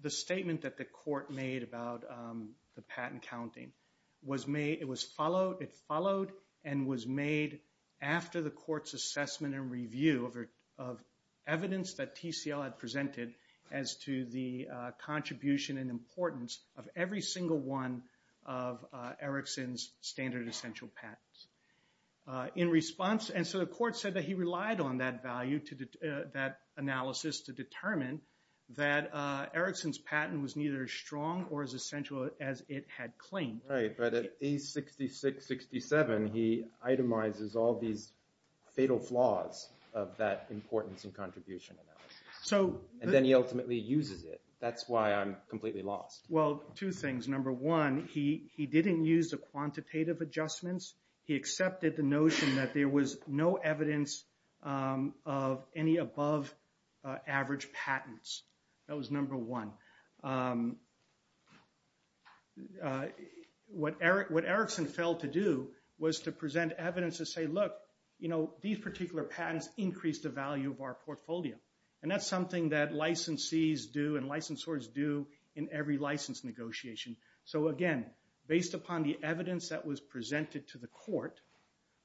the statement that the court made about the patent counting, it followed and was made after the court's assessment and review of evidence that TCL had presented as to the contribution and importance of every single one of Erickson's standard essential patents. And so the court said that he relied on that analysis to determine that Erickson's patent was neither strong or as essential as it had claimed. Right, but at A66-67, he itemizes all these fatal flaws of that importance and contribution analysis. And then he ultimately uses it. That's why I'm completely lost. Well, two things. Number one, he didn't use the quantitative adjustments. He accepted the notion that there was no evidence of any above average patents. That was number one. What Erickson failed to do was to present evidence to say, look, these particular patents increase the value of our portfolio. And that's something that licensees do and licensors do in every license negotiation. So again, based upon the evidence that was presented to the court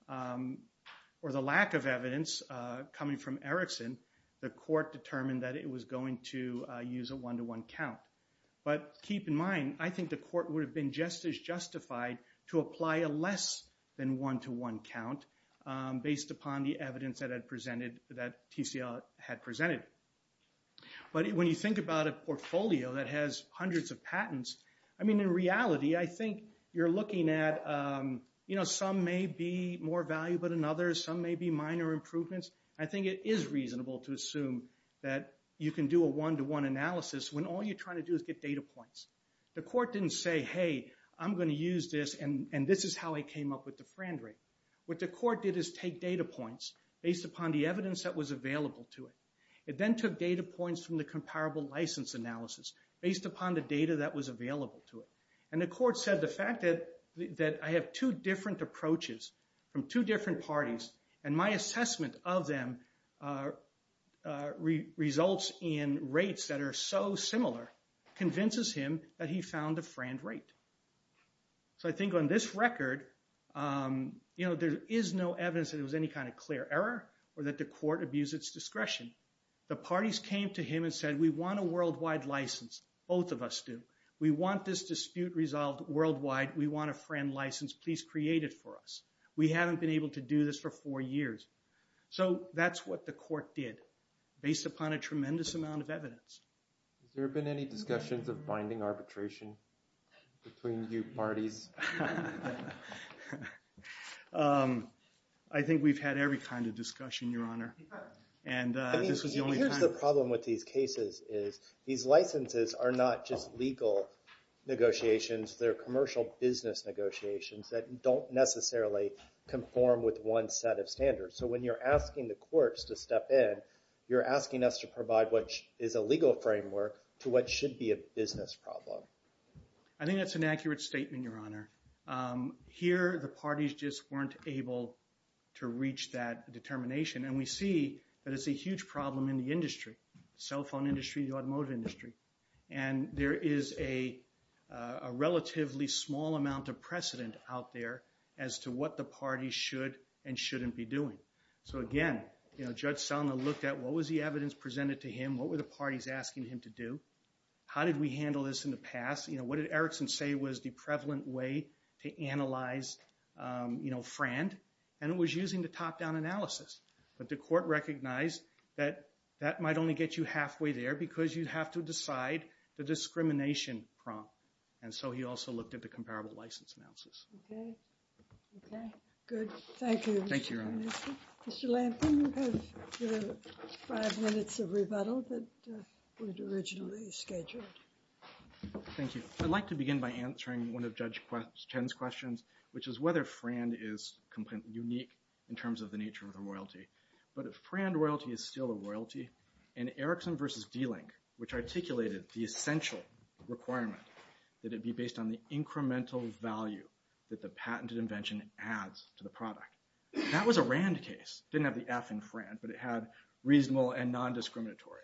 or the lack of evidence coming from Erickson, the court determined that it was going to use a one-to-one count. But keep in mind, I think the court would have been just as justified to apply a less than one-to-one count based upon the evidence that TCL had presented. But when you think about a portfolio that has hundreds of patents, I mean, in reality, I think you're looking at, you know, some may be more valuable than others. Some may be minor improvements. I think it is reasonable to assume that you can do a one-to-one analysis when all you're trying to do is get data points. The court didn't say, hey, I'm going to use this, and this is how I came up with the friend rate. What the court did is take data points based upon the evidence that was available to it. It then took data points from the comparable license analysis based upon the data that was available to it. And the court said the fact that I have two different approaches from two different parties, and my assessment of them results in rates that are so similar convinces him that he found a friend rate. So I think on this record, you know, there is no evidence that it was any kind of clear error or that the court abused its discretion. The parties came to him and said, we want a worldwide license. Both of us do. We want this dispute resolved worldwide. We want a friend license. Please create it for us. We haven't been able to do this for four years. So that's what the court did, based upon a tremendous amount of evidence. Has there been any discussions of binding arbitration between you parties? I think we've had every kind of discussion, Your Honor. And this was the only time. Here's the problem with these cases is these licenses are not just legal negotiations. They're commercial business negotiations that don't necessarily conform with one set of standards. So when you're asking the courts to step in, you're asking us to provide what is a legal framework I think that's an accurate statement, Your Honor. Here, the parties just weren't able to reach that determination. And we see that it's a huge problem in the industry, the cell phone industry, the automotive industry. And there is a relatively small amount of precedent out there as to what the parties should and shouldn't be doing. So again, Judge Selma looked at, what was the evidence presented to him? What were the parties asking him to do? How did we handle this in the past? What did Erickson say was the prevalent way to analyze FRAND? And it was using the top-down analysis. But the court recognized that that might only get you halfway there because you'd have to decide the discrimination prompt. And so he also looked at the comparable license analysis. Okay. Good. Thank you. Thank you, Your Honor. Mr. Lampkin, you have five minutes of rebuttal that was originally scheduled. Thank you. I'd like to begin by answering one of Judge Chen's questions, which is whether FRAND is completely unique in terms of the nature of the royalty. But if FRAND royalty is still a royalty, and Erickson v. D-Link, which articulated the essential requirement that it be based on the incremental value that the patented invention adds to the product. That was a RAND case. It didn't have the F in FRAND, but it had reasonable and non-discriminatory.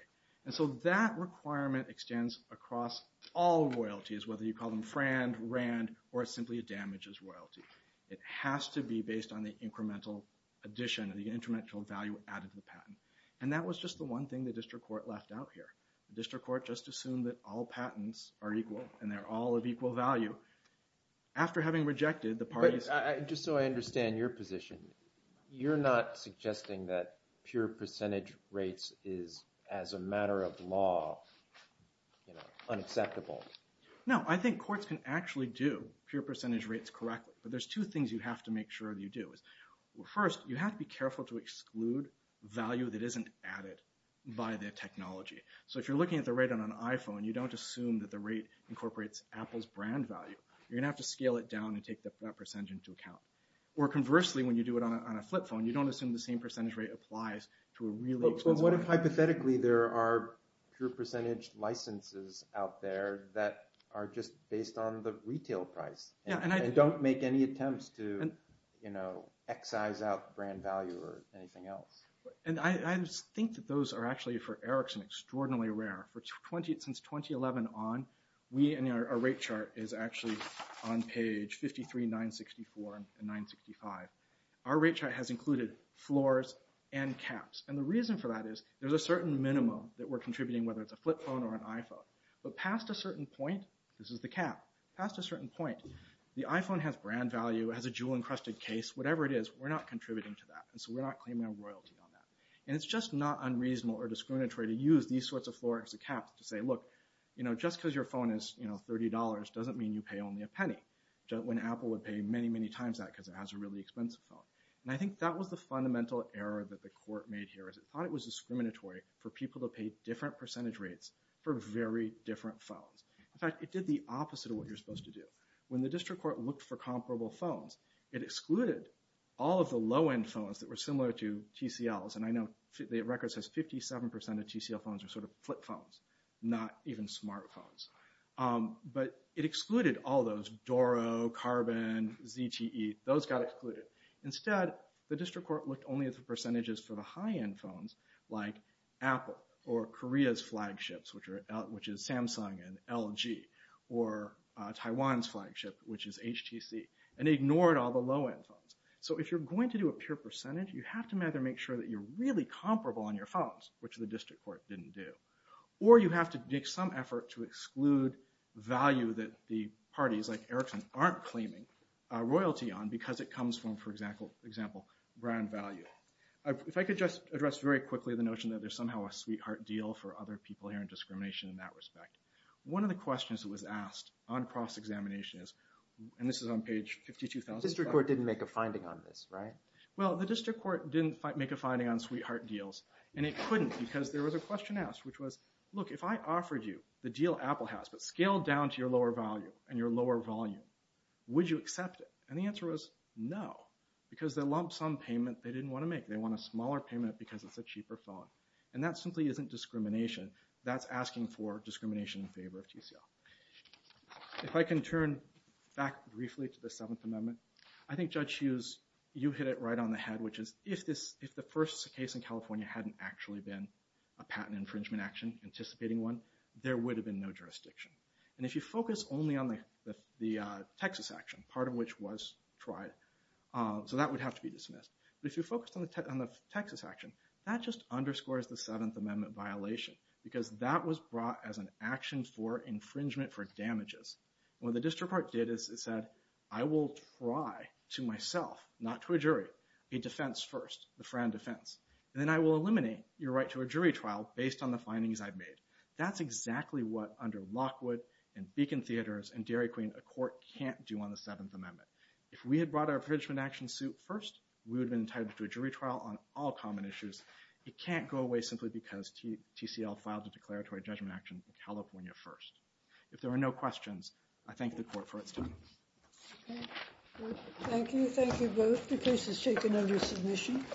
And so that requirement extends across all royalties, whether you call them FRAND, RAND, or simply damages royalty. It has to be based on the incremental addition and the incremental value added to the patent. And that was just the one thing the district court left out here. The district court just assumed that all patents are equal and they're all of equal value. After having rejected, the parties... But just so I understand your position, you're not suggesting that pure percentage rates is, as a matter of law, unacceptable? No, I think courts can actually do pure percentage rates correctly. But there's two things you have to make sure you do. First, you have to be careful to exclude value that isn't added by the technology. So if you're looking at the rate on an iPhone, you don't assume that the rate incorporates Apple's brand value. You're going to have to scale it down and take that percentage into account. Or conversely, when you do it on a flip phone, you don't assume the same percentage rate applies to a really expensive... But what if, hypothetically, there are pure percentage licenses out there that are just based on the retail price and don't make any attempts to, you know, excise out brand value or anything else? And I think that those are actually, for Erickson, extraordinarily rare. Since 2011 on, we and our rate chart is actually on page 53, 964, and 965. Our rate chart has included floors and caps. And the reason for that is there's a certain minimum that we're contributing, whether it's a flip phone or an iPhone. But past a certain point, this is the cap, past a certain point, the iPhone has brand value, it has a jewel-encrusted case, whatever it is, we're not contributing to that, and so we're not claiming our royalty on that. And it's just not unreasonable or discriminatory to use these sorts of floors and caps to say, look, you know, just because your phone is, you know, $30 doesn't mean you pay only a penny, when Apple would pay many, many times that because it has a really expensive phone. And I think that was the fundamental error that the court made here, is it thought it was discriminatory for people to pay different percentage rates for very different phones. In fact, it did the opposite of what you're supposed to do. When the district court looked for comparable phones, it excluded all of the low-end phones that were similar to TCLs, and I know the record says 57% of TCL phones are sort of flip phones, not even smartphones. But it excluded all those, Doro, Carbon, ZTE, those got excluded. Instead, the district court looked only at the percentages for the high-end phones, like Apple, or Korea's flagships, which is Samsung and LG, or Taiwan's flagship, which is HTC, and ignored all the low-end phones. So if you're going to do a pure percentage, you have to either make sure that you're really comparable on your phones, which the district court didn't do, or you have to make some effort to exclude value that the parties, like Ericsson, aren't claiming royalty on because it comes from, for example, brand value. If I could just address very quickly the notion that there's somehow a sweetheart deal for other people here in discrimination in that respect. One of the questions that was asked on cross-examination is, and this is on page 52,000... The district court didn't make a finding on this, right? Well, the district court didn't make a finding on sweetheart deals, and it couldn't because there was a question asked, which was, look, if I offered you the deal Apple has, but scaled down to your lower value and your lower volume, would you accept it? And the answer was, no, because they lumped some payment they didn't want to make. They want a smaller payment because it's a cheaper phone. And that simply isn't discrimination. That's asking for discrimination in favor of TCL. If I can turn back briefly to the Seventh Amendment, I think Judge Hughes, you hit it right on the head, which is, if the first case in California hadn't actually been a patent infringement action, anticipating one, there would have been no jurisdiction. And if you focus only on the Texas action, part of which was tried, so that would have to be dismissed. But if you focused on the Texas action, that just underscores the Seventh Amendment violation because that was brought as an action for infringement for damages. What the district court did is it said, I will try to myself, not to a jury, a defense first, the Fran defense, and then I will eliminate your right to a jury trial based on the findings I've made. That's exactly what, under Lockwood, and Beacon Theaters, and Dairy Queen, a court can't do on the Seventh Amendment. If we had brought our infringement action suit first, we would have been entitled to a jury trial on all common issues. It can't go away simply because TCL filed a declaratory judgment action in California first. If there are no questions, I thank the court for its time. Thank you. Thank you both. The case is taken under submission.